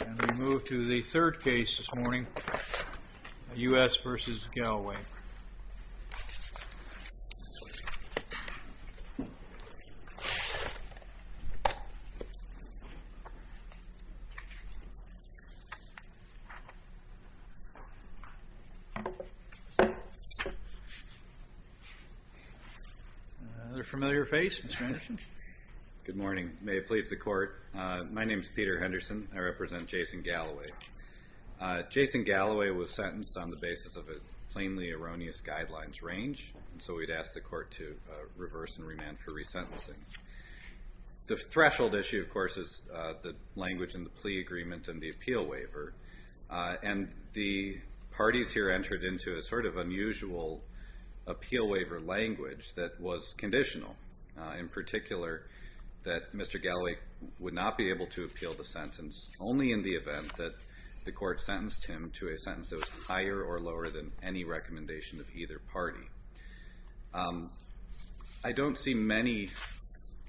And we move to the third case this morning, U.S. v. Galloway. Another familiar face, Mr. Henderson? Good morning. May it please the Court. My name is Peter Henderson. I represent Jason Galloway. Jason Galloway was sentenced on the basis of a plainly erroneous guidelines range, and so we'd ask the Court to reverse and remand for resentencing. The threshold issue, of course, is the language in the plea agreement and the appeal waiver, and the parties here entered into a sort of unusual appeal waiver language that was conditional, in particular that Mr. Galloway would not be able to appeal the sentence only in the event that the Court sentenced him to a sentence that was higher or lower than any recommendation of either party. I don't see many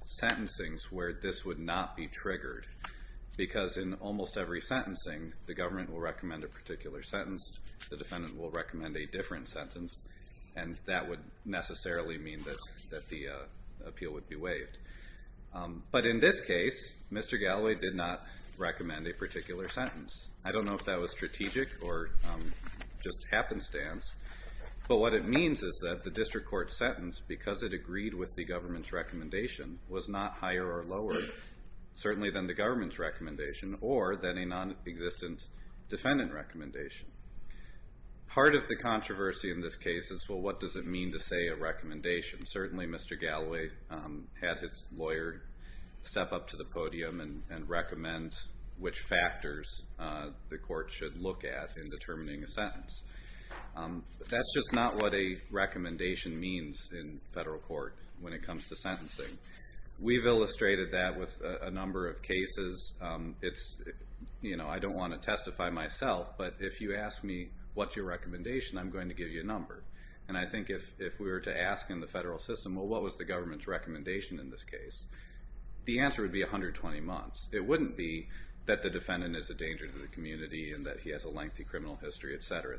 sentencings where this would not be triggered, because in almost every sentencing the government will recommend a particular sentence, the defendant will recommend a different sentence, and that would necessarily mean that the appeal would be waived. But in this case, Mr. Galloway did not recommend a particular sentence. I don't know if that was strategic or just happenstance, but what it means is that the district court sentence, because it agreed with the government's recommendation, was not higher or lower, certainly than the government's recommendation, or than a nonexistent defendant recommendation. Part of the controversy in this case is, well, what does it mean to say a recommendation? Certainly Mr. Galloway had his lawyer step up to the podium and recommend which factors the Court should look at in determining a sentence. That's just not what a recommendation means in federal court when it comes to sentencing. I don't want to testify myself, but if you ask me, what's your recommendation, I'm going to give you a number. And I think if we were to ask in the federal system, well, what was the government's recommendation in this case, the answer would be 120 months. It wouldn't be that the defendant is a danger to the community and that he has a lengthy criminal history, etc.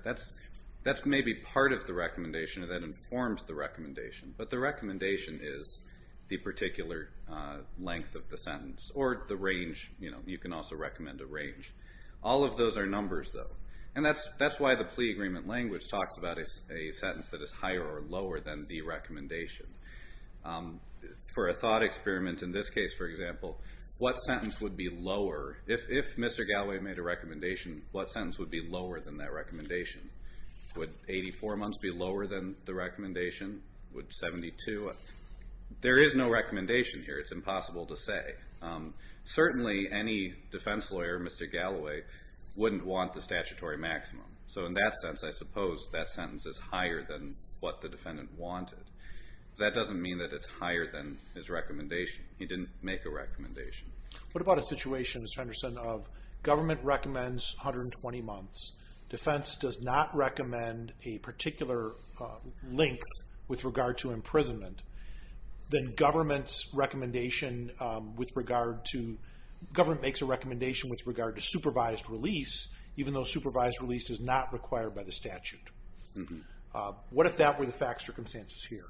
That's maybe part of the recommendation or that informs the recommendation, but the recommendation is the particular length of the sentence or the range. You can also recommend a range. All of those are numbers, though, and that's why the plea agreement language talks about a sentence that is higher or lower than the recommendation. For a thought experiment in this case, for example, what sentence would be lower? If Mr. Galloway made a recommendation, what sentence would be lower than that recommendation? Would 84 months be lower than the recommendation? Would 72? There is no recommendation here. It's impossible to say. Certainly any defense lawyer, Mr. Galloway, wouldn't want the statutory maximum. So in that sense, I suppose that sentence is higher than what the defendant wanted. That doesn't mean that it's higher than his recommendation. He didn't make a recommendation. What about a situation, Mr. Henderson, of government recommends 120 months. Defense does not recommend a particular length with regard to imprisonment. Then government makes a recommendation with regard to supervised release, even though supervised release is not required by the statute. What if that were the fact circumstances here?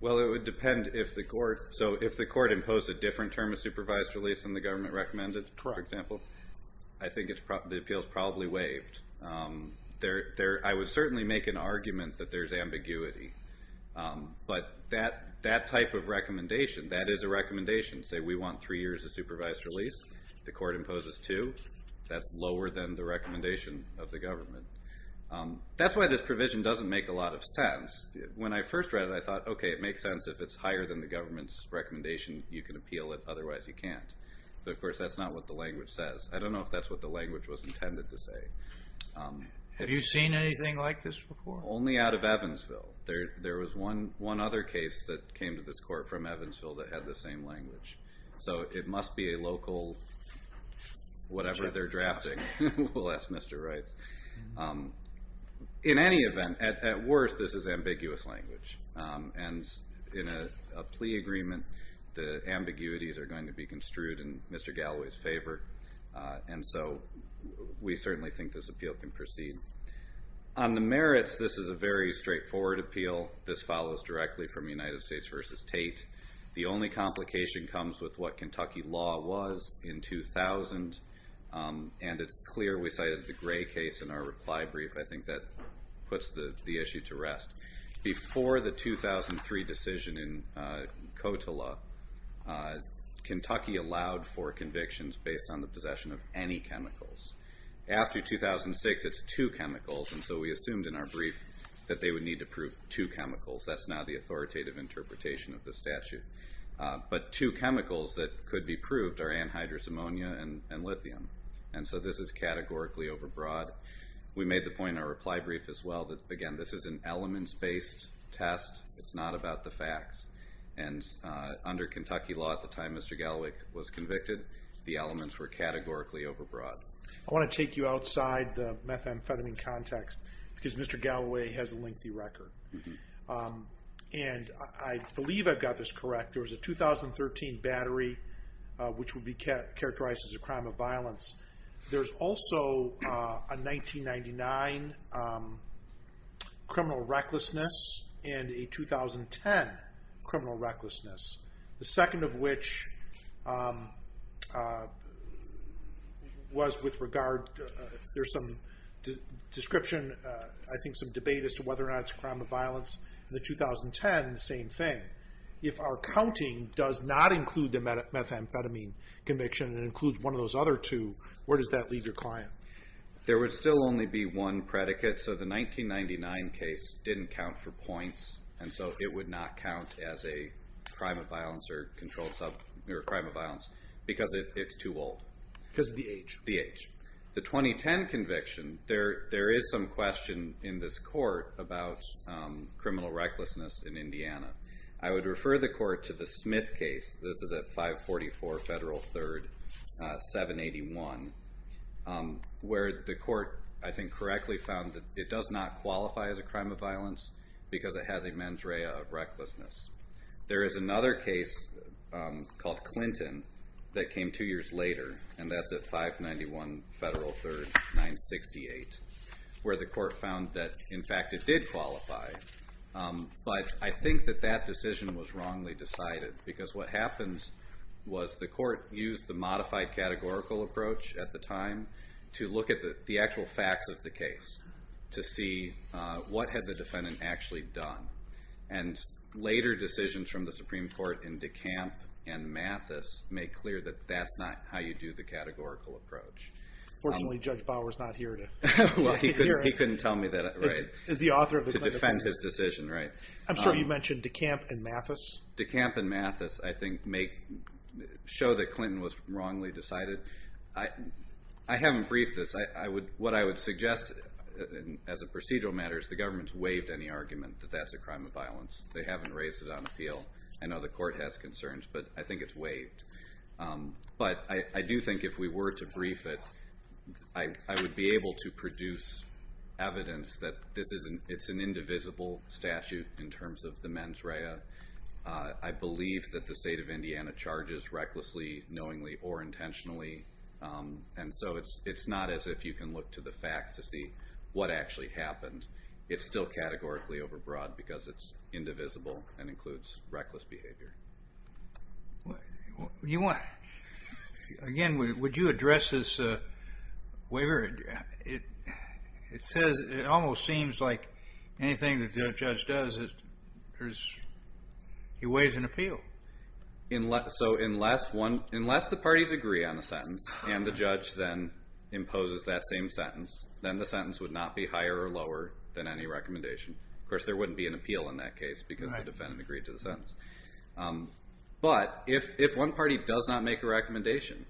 Well, it would depend if the court imposed a different term of supervised release than the government recommended, for example. I think the appeal is probably waived. I would certainly make an argument that there's ambiguity. But that type of recommendation, that is a recommendation. Say we want three years of supervised release. The court imposes two. That's lower than the recommendation of the government. That's why this provision doesn't make a lot of sense. When I first read it, I thought, okay, it makes sense. If it's higher than the government's recommendation, you can appeal it. Otherwise, you can't. But, of course, that's not what the language says. I don't know if that's what the language was intended to say. Have you seen anything like this before? Only out of Evansville. There was one other case that came to this court from Evansville that had the same language. So it must be a local whatever they're drafting, we'll ask Mr. Wright. In any event, at worst, this is ambiguous language. In a plea agreement, the ambiguities are going to be construed in Mr. Galloway's favor. So we certainly think this appeal can proceed. On the merits, this is a very straightforward appeal. This follows directly from United States v. Tate. The only complication comes with what Kentucky law was in 2000, and it's clear we cited the Gray case in our reply brief. I think that puts the issue to rest. Before the 2003 decision in COTLA, Kentucky allowed for convictions based on the possession of any chemicals. After 2006, it's two chemicals, and so we assumed in our brief that they would need to prove two chemicals. That's now the authoritative interpretation of the statute. But two chemicals that could be proved are anhydrous ammonia and lithium, and so this is categorically overbroad. We made the point in our reply brief as well that, again, this is an elements-based test. It's not about the facts. And under Kentucky law at the time Mr. Galloway was convicted, the elements were categorically overbroad. I want to take you outside the methamphetamine context because Mr. Galloway has a lengthy record. And I believe I've got this correct. There was a 2013 battery, which would be characterized as a crime of violence. There's also a 1999 criminal recklessness and a 2010 criminal recklessness, the second of which was with regard to, there's some description, I think some debate as to whether or not it's a crime of violence. In the 2010, the same thing. If our counting does not include the methamphetamine conviction and includes one of those other two, where does that leave your client? There would still only be one predicate. So the 1999 case didn't count for points, and so it would not count as a crime of violence or a controlled substance or a crime of violence because it's too old. Because of the age. The age. The 2010 conviction, there is some question in this court about criminal recklessness in Indiana. I would refer the court to the Smith case. This is at 544 Federal 3rd, 781, where the court, I think, correctly found that it does not qualify as a crime of violence because it has a mens rea of recklessness. There is another case called Clinton that came two years later, and that's at 591 Federal 3rd, 968, where the court found that, in fact, it did qualify. But I think that that decision was wrongly decided because what happened was the court used the modified categorical approach at the time to look at the actual facts of the case to see what has the defendant actually done. And later decisions from the Supreme Court in DeKalb and Mathis make clear that that's not how you do the categorical approach. Unfortunately, Judge Bower is not here to hear it. He couldn't tell me to defend his decision. I'm sure you mentioned DeKalb and Mathis. DeKalb and Mathis, I think, show that Clinton was wrongly decided. I haven't briefed this. What I would suggest as a procedural matter is the government's waived any argument that that's a crime of violence. They haven't raised it on appeal. But I do think if we were to brief it, I would be able to produce evidence that it's an indivisible statute in terms of the mens rea. I believe that the state of Indiana charges recklessly, knowingly, or intentionally. And so it's not as if you can look to the facts to see what actually happened. It's still categorically overbroad because it's indivisible and includes reckless behavior. Again, would you address this waiver? It says it almost seems like anything the judge does, he weighs in appeal. So unless the parties agree on the sentence and the judge then imposes that same sentence, then the sentence would not be higher or lower than any recommendation. Of course, there wouldn't be an appeal in that case because the defendant agreed to the sentence. But if one party does not make a recommendation,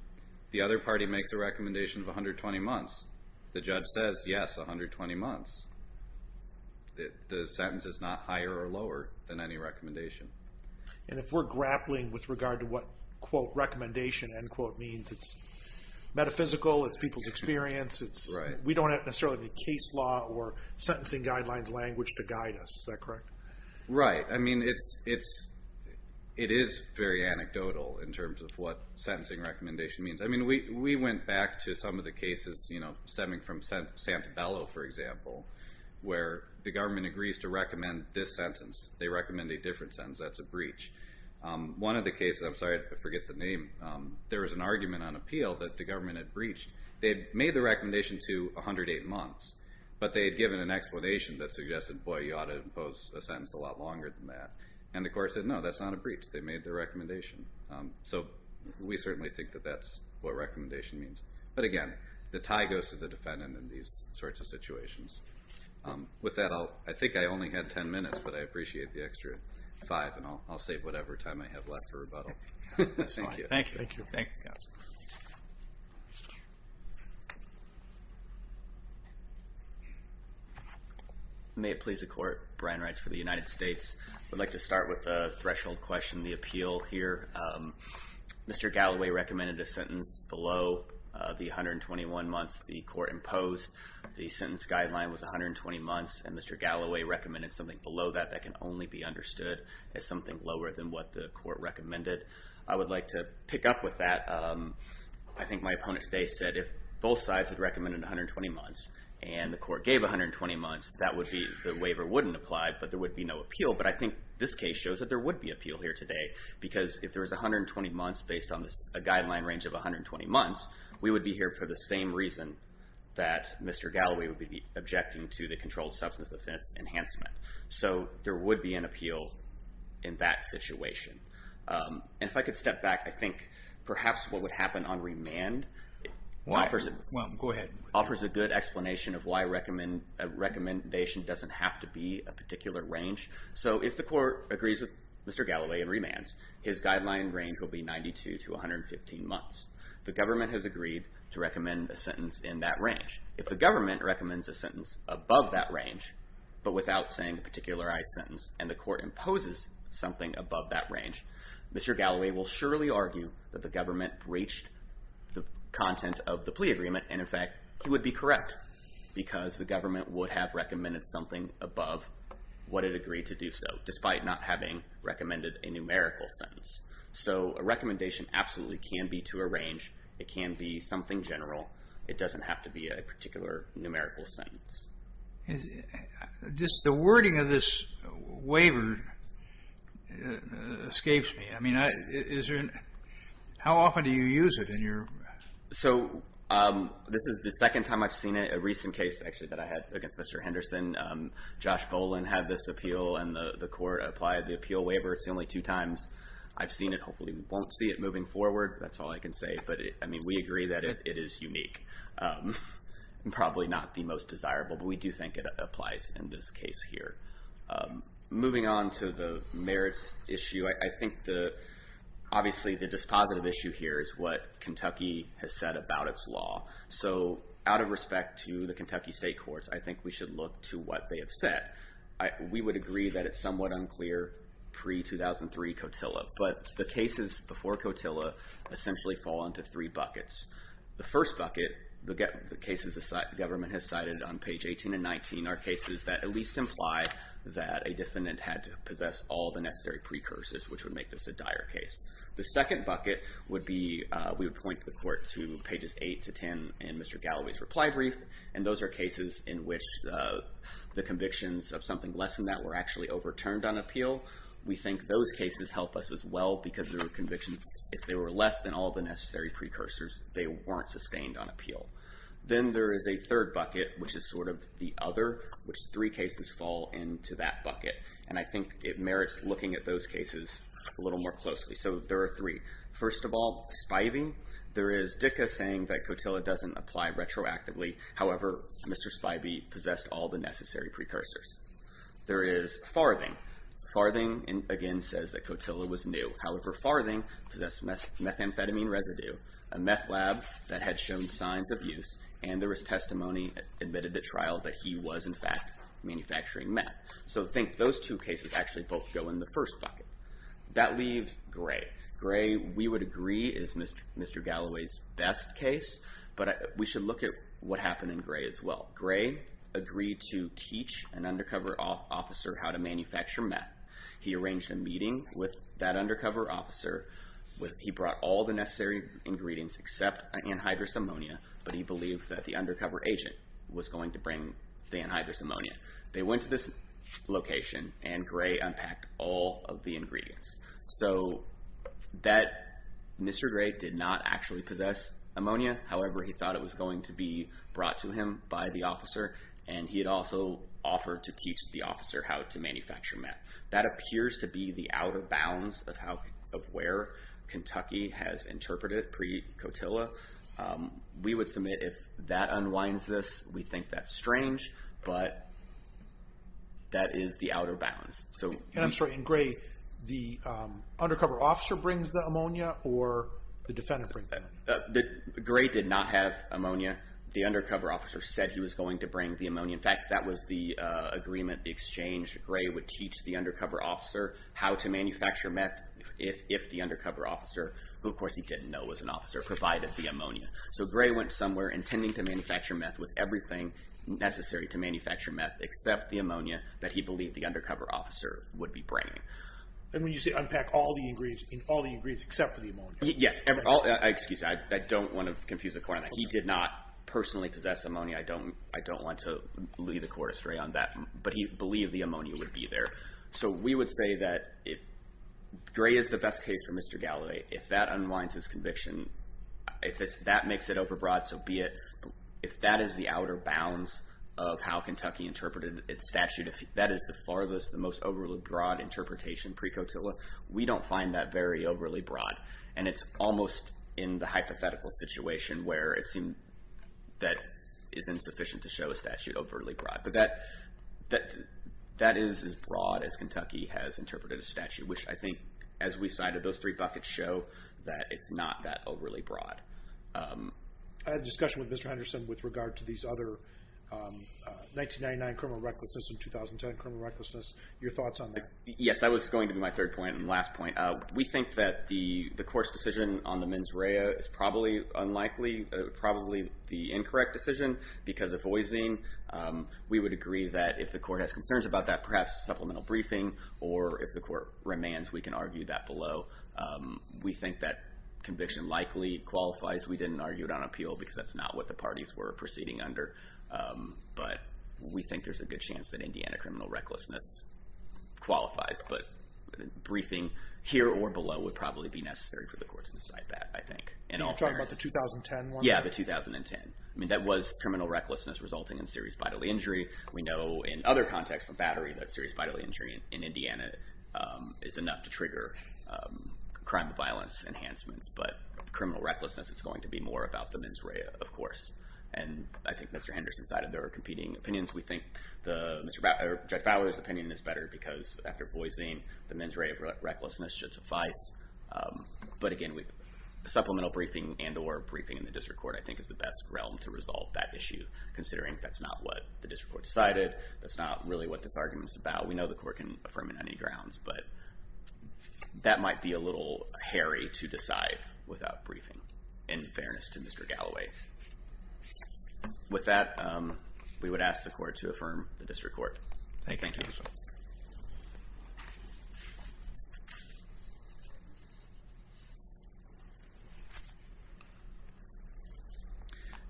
the other party makes a recommendation of 120 months, the judge says, yes, 120 months. The sentence is not higher or lower than any recommendation. And if we're grappling with regard to what quote recommendation end quote means, it's metaphysical, it's people's experience, we don't have necessarily any case law or sentencing guidelines language to guide us. Is that correct? Right. I mean, it is very anecdotal in terms of what sentencing recommendation means. I mean, we went back to some of the cases, you know, stemming from Santabello, for example, where the government agrees to recommend this sentence. They recommend a different sentence. That's a breach. One of the cases, I'm sorry, I forget the name. There was an argument on appeal that the government had breached. They had made the recommendation to 108 months, but they had given an explanation that suggested, boy, you ought to impose a sentence a lot longer than that. And the court said, no, that's not a breach. They made the recommendation. So we certainly think that that's what recommendation means. But, again, the tie goes to the defendant in these sorts of situations. With that, I think I only had 10 minutes, but I appreciate the extra five, and I'll save whatever time I have left for rebuttal. Thank you. Thank you. Thank you, counsel. May it please the Court, Brian Reitz for the United States. I'd like to start with a threshold question, the appeal here. Mr. Galloway recommended a sentence below the 121 months the court imposed. The sentence guideline was 120 months, and Mr. Galloway recommended something below that that can only be understood as something lower than what the court recommended. I would like to pick up with that. I think my opponent today said if both sides had recommended 120 months and the court gave 120 months, that would be the waiver wouldn't apply, but there would be no appeal. But I think this case shows that there would be appeal here today because if there was 120 months based on a guideline range of 120 months, we would be here for the same reason that Mr. Galloway would be objecting to the controlled substance offense enhancement. So there would be an appeal in that situation. And if I could step back, I think perhaps what would happen on remand offers a good explanation of why a recommendation doesn't have to be a particular range. So if the court agrees with Mr. Galloway in remands, his guideline range will be 92 to 115 months. The government has agreed to recommend a sentence in that range. If the government recommends a sentence above that range, but without saying a particularized sentence, and the court imposes something above that range, Mr. Galloway will surely argue that the government breached the content of the plea agreement, and, in fact, he would be correct because the government would have recommended something above what it agreed to do so, despite not having recommended a numerical sentence. So a recommendation absolutely can be to a range. It can be something general. It doesn't have to be a particular numerical sentence. The wording of this waiver escapes me. I mean, how often do you use it? So this is the second time I've seen it. A recent case, actually, that I had against Mr. Henderson, Josh Bolin had this appeal, and the court applied the appeal waiver. It's the only two times I've seen it. Hopefully we won't see it moving forward. That's all I can say. But, I mean, we agree that it is unique, and probably not the most desirable, but we do think it applies in this case here. Moving on to the merits issue, I think, obviously, the dispositive issue here is what Kentucky has said about its law. So out of respect to the Kentucky State Courts, I think we should look to what they have said. We would agree that it's somewhat unclear pre-2003 COTILLA, but the cases before COTILLA essentially fall into three buckets. The first bucket, the cases the government has cited on page 18 and 19, are cases that at least imply that a defendant had to possess all the necessary precursors, which would make this a dire case. The second bucket would be, we would point the court to pages 8 to 10 in Mr. Galloway's reply brief, and those are cases in which the convictions of something less than that were actually overturned on appeal. We think those cases help us as well, because there were convictions, if they were less than all the necessary precursors, they weren't sustained on appeal. Then there is a third bucket, which is sort of the other, which three cases fall into that bucket, and I think it merits looking at those cases a little more closely. So there are three. First of all, Spivey. There is Dicke saying that COTILLA doesn't apply retroactively. However, Mr. Spivey possessed all the necessary precursors. There is Farthing. Farthing, again, says that COTILLA was new. However, Farthing possessed methamphetamine residue, a meth lab that had shown signs of use, and there was testimony that admitted at trial that he was, in fact, manufacturing meth. So I think those two cases actually both go in the first bucket. That leaves Gray. Gray, we would agree, is Mr. Galloway's best case, but we should look at what happened in Gray as well. Gray agreed to teach an undercover officer how to manufacture meth. He arranged a meeting with that undercover officer. He brought all the necessary ingredients except anhydrous ammonia, but he believed that the undercover agent was going to bring the anhydrous ammonia. They went to this location, and Gray unpacked all of the ingredients. So Mr. Gray did not actually possess ammonia. However, he thought it was going to be brought to him by the officer, and he had also offered to teach the officer how to manufacture meth. That appears to be the out-of-bounds of where Kentucky has interpreted pre-Cotilla. We would submit if that unwinds this, we think that's strange, but that is the out-of-bounds. And I'm sorry, in Gray, the undercover officer brings the ammonia, or the defendant brings the ammonia? Gray did not have ammonia. The undercover officer said he was going to bring the ammonia. In fact, that was the agreement, the exchange. Gray would teach the undercover officer how to manufacture meth if the undercover officer, who, of course, he didn't know was an officer, provided the ammonia. So Gray went somewhere intending to manufacture meth with everything necessary to manufacture meth except the ammonia that he believed the undercover officer would be bringing. And when you say unpack all the ingredients except for the ammonia? Yes. Excuse me. I don't want to confuse the court on that. He did not personally possess ammonia. I don't want to lead the court astray on that, but he believed the ammonia would be there. So we would say that Gray is the best case for Mr. Galloway. If that unwinds his conviction, if that makes it overbroad, so be it. If that is the out-of-bounds of how Kentucky interpreted its statute, if that is the farthest, the most overly broad interpretation pre-Cotilla, we don't find that very overly broad. And it's almost in the hypothetical situation where it seems that it's insufficient to show a statute overly broad. But that is as broad as Kentucky has interpreted a statute, which I think, as we cited those three buckets, show that it's not that overly broad. I had a discussion with Mr. Henderson with regard to these other 1999 criminal recklessness and 2010 criminal recklessness. Your thoughts on that? Yes, that was going to be my third point and last point. We think that the court's decision on the mens rea is probably unlikely, probably the incorrect decision because of voicing. We would agree that if the court has concerns about that, perhaps supplemental briefing, or if the court remands, we can argue that below. We think that conviction likely qualifies. We didn't argue it on appeal because that's not what the parties were proceeding under. But we think there's a good chance that Indiana criminal recklessness qualifies. But briefing here or below would probably be necessary for the court to decide that, I think. You're talking about the 2010 one? Yes, the 2010. That was criminal recklessness resulting in serious bodily injury. We know in other contexts, from battery, that serious bodily injury in Indiana is enough to trigger crime and violence enhancements. But criminal recklessness, it's going to be more about the mens rea, of course. And I think Mr. Henderson cited their competing opinions. We think Judge Bowers' opinion is better because, after voicing, the mens rea of recklessness should suffice. But again, supplemental briefing and or briefing in the district court, I think, is the best realm to resolve that issue, considering that's not what the district court decided. That's not really what this argument is about. We know the court can affirm it on any grounds. But that might be a little hairy to decide without briefing, in fairness to Mr. Galloway. With that, we would ask the court to affirm the district court. Thank you.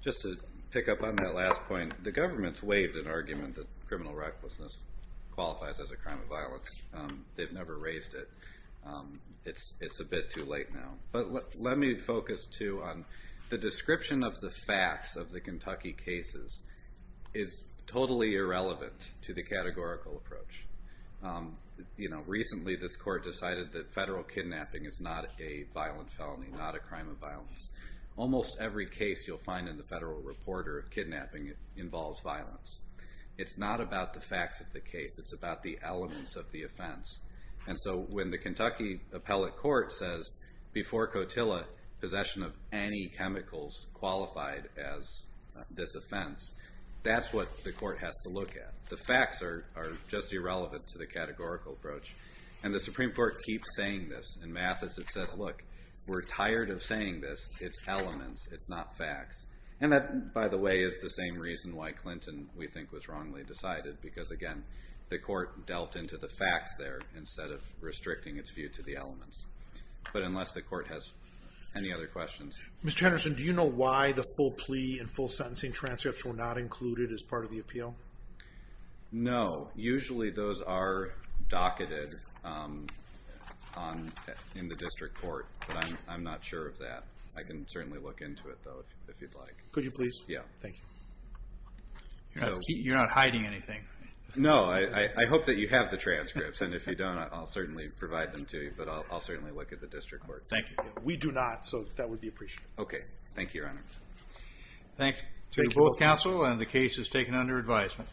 Just to pick up on that last point, the government's waived an argument that criminal recklessness qualifies as a crime of violence. They've never raised it. It's a bit too late now. But let me focus, too, on the description of the facts of the Kentucky cases is totally irrelevant to the categorical approach. Recently, this court decided that federal kidnapping is not a violent felony, not a crime of violence. Almost every case you'll find in the federal reporter of kidnapping involves violence. It's not about the facts of the case. It's about the elements of the offense. And so when the Kentucky appellate court says, before Cotilla, possession of any chemicals qualified as this offense, that's what the court has to look at. The facts are just irrelevant to the categorical approach. And the Supreme Court keeps saying this. In Mathis, it says, look, we're tired of saying this. It's elements. It's not facts. And that, by the way, is the same reason why Clinton, we think, was wrongly decided. Because, again, the court delved into the facts there instead of restricting its view to the elements. But unless the court has any other questions. Mr. Henderson, do you know why the full plea and full sentencing transcripts were not No. Usually those are docketed in the district court. But I'm not sure of that. I can certainly look into it, though, if you'd like. Could you please? Yeah. Thank you. You're not hiding anything. No. I hope that you have the transcripts. And if you don't, I'll certainly provide them to you. But I'll certainly look at the district court. Thank you. We do not. So that would be appreciated. Okay. Thank you, Your Honor. Thank you both. The case is taken under advisement.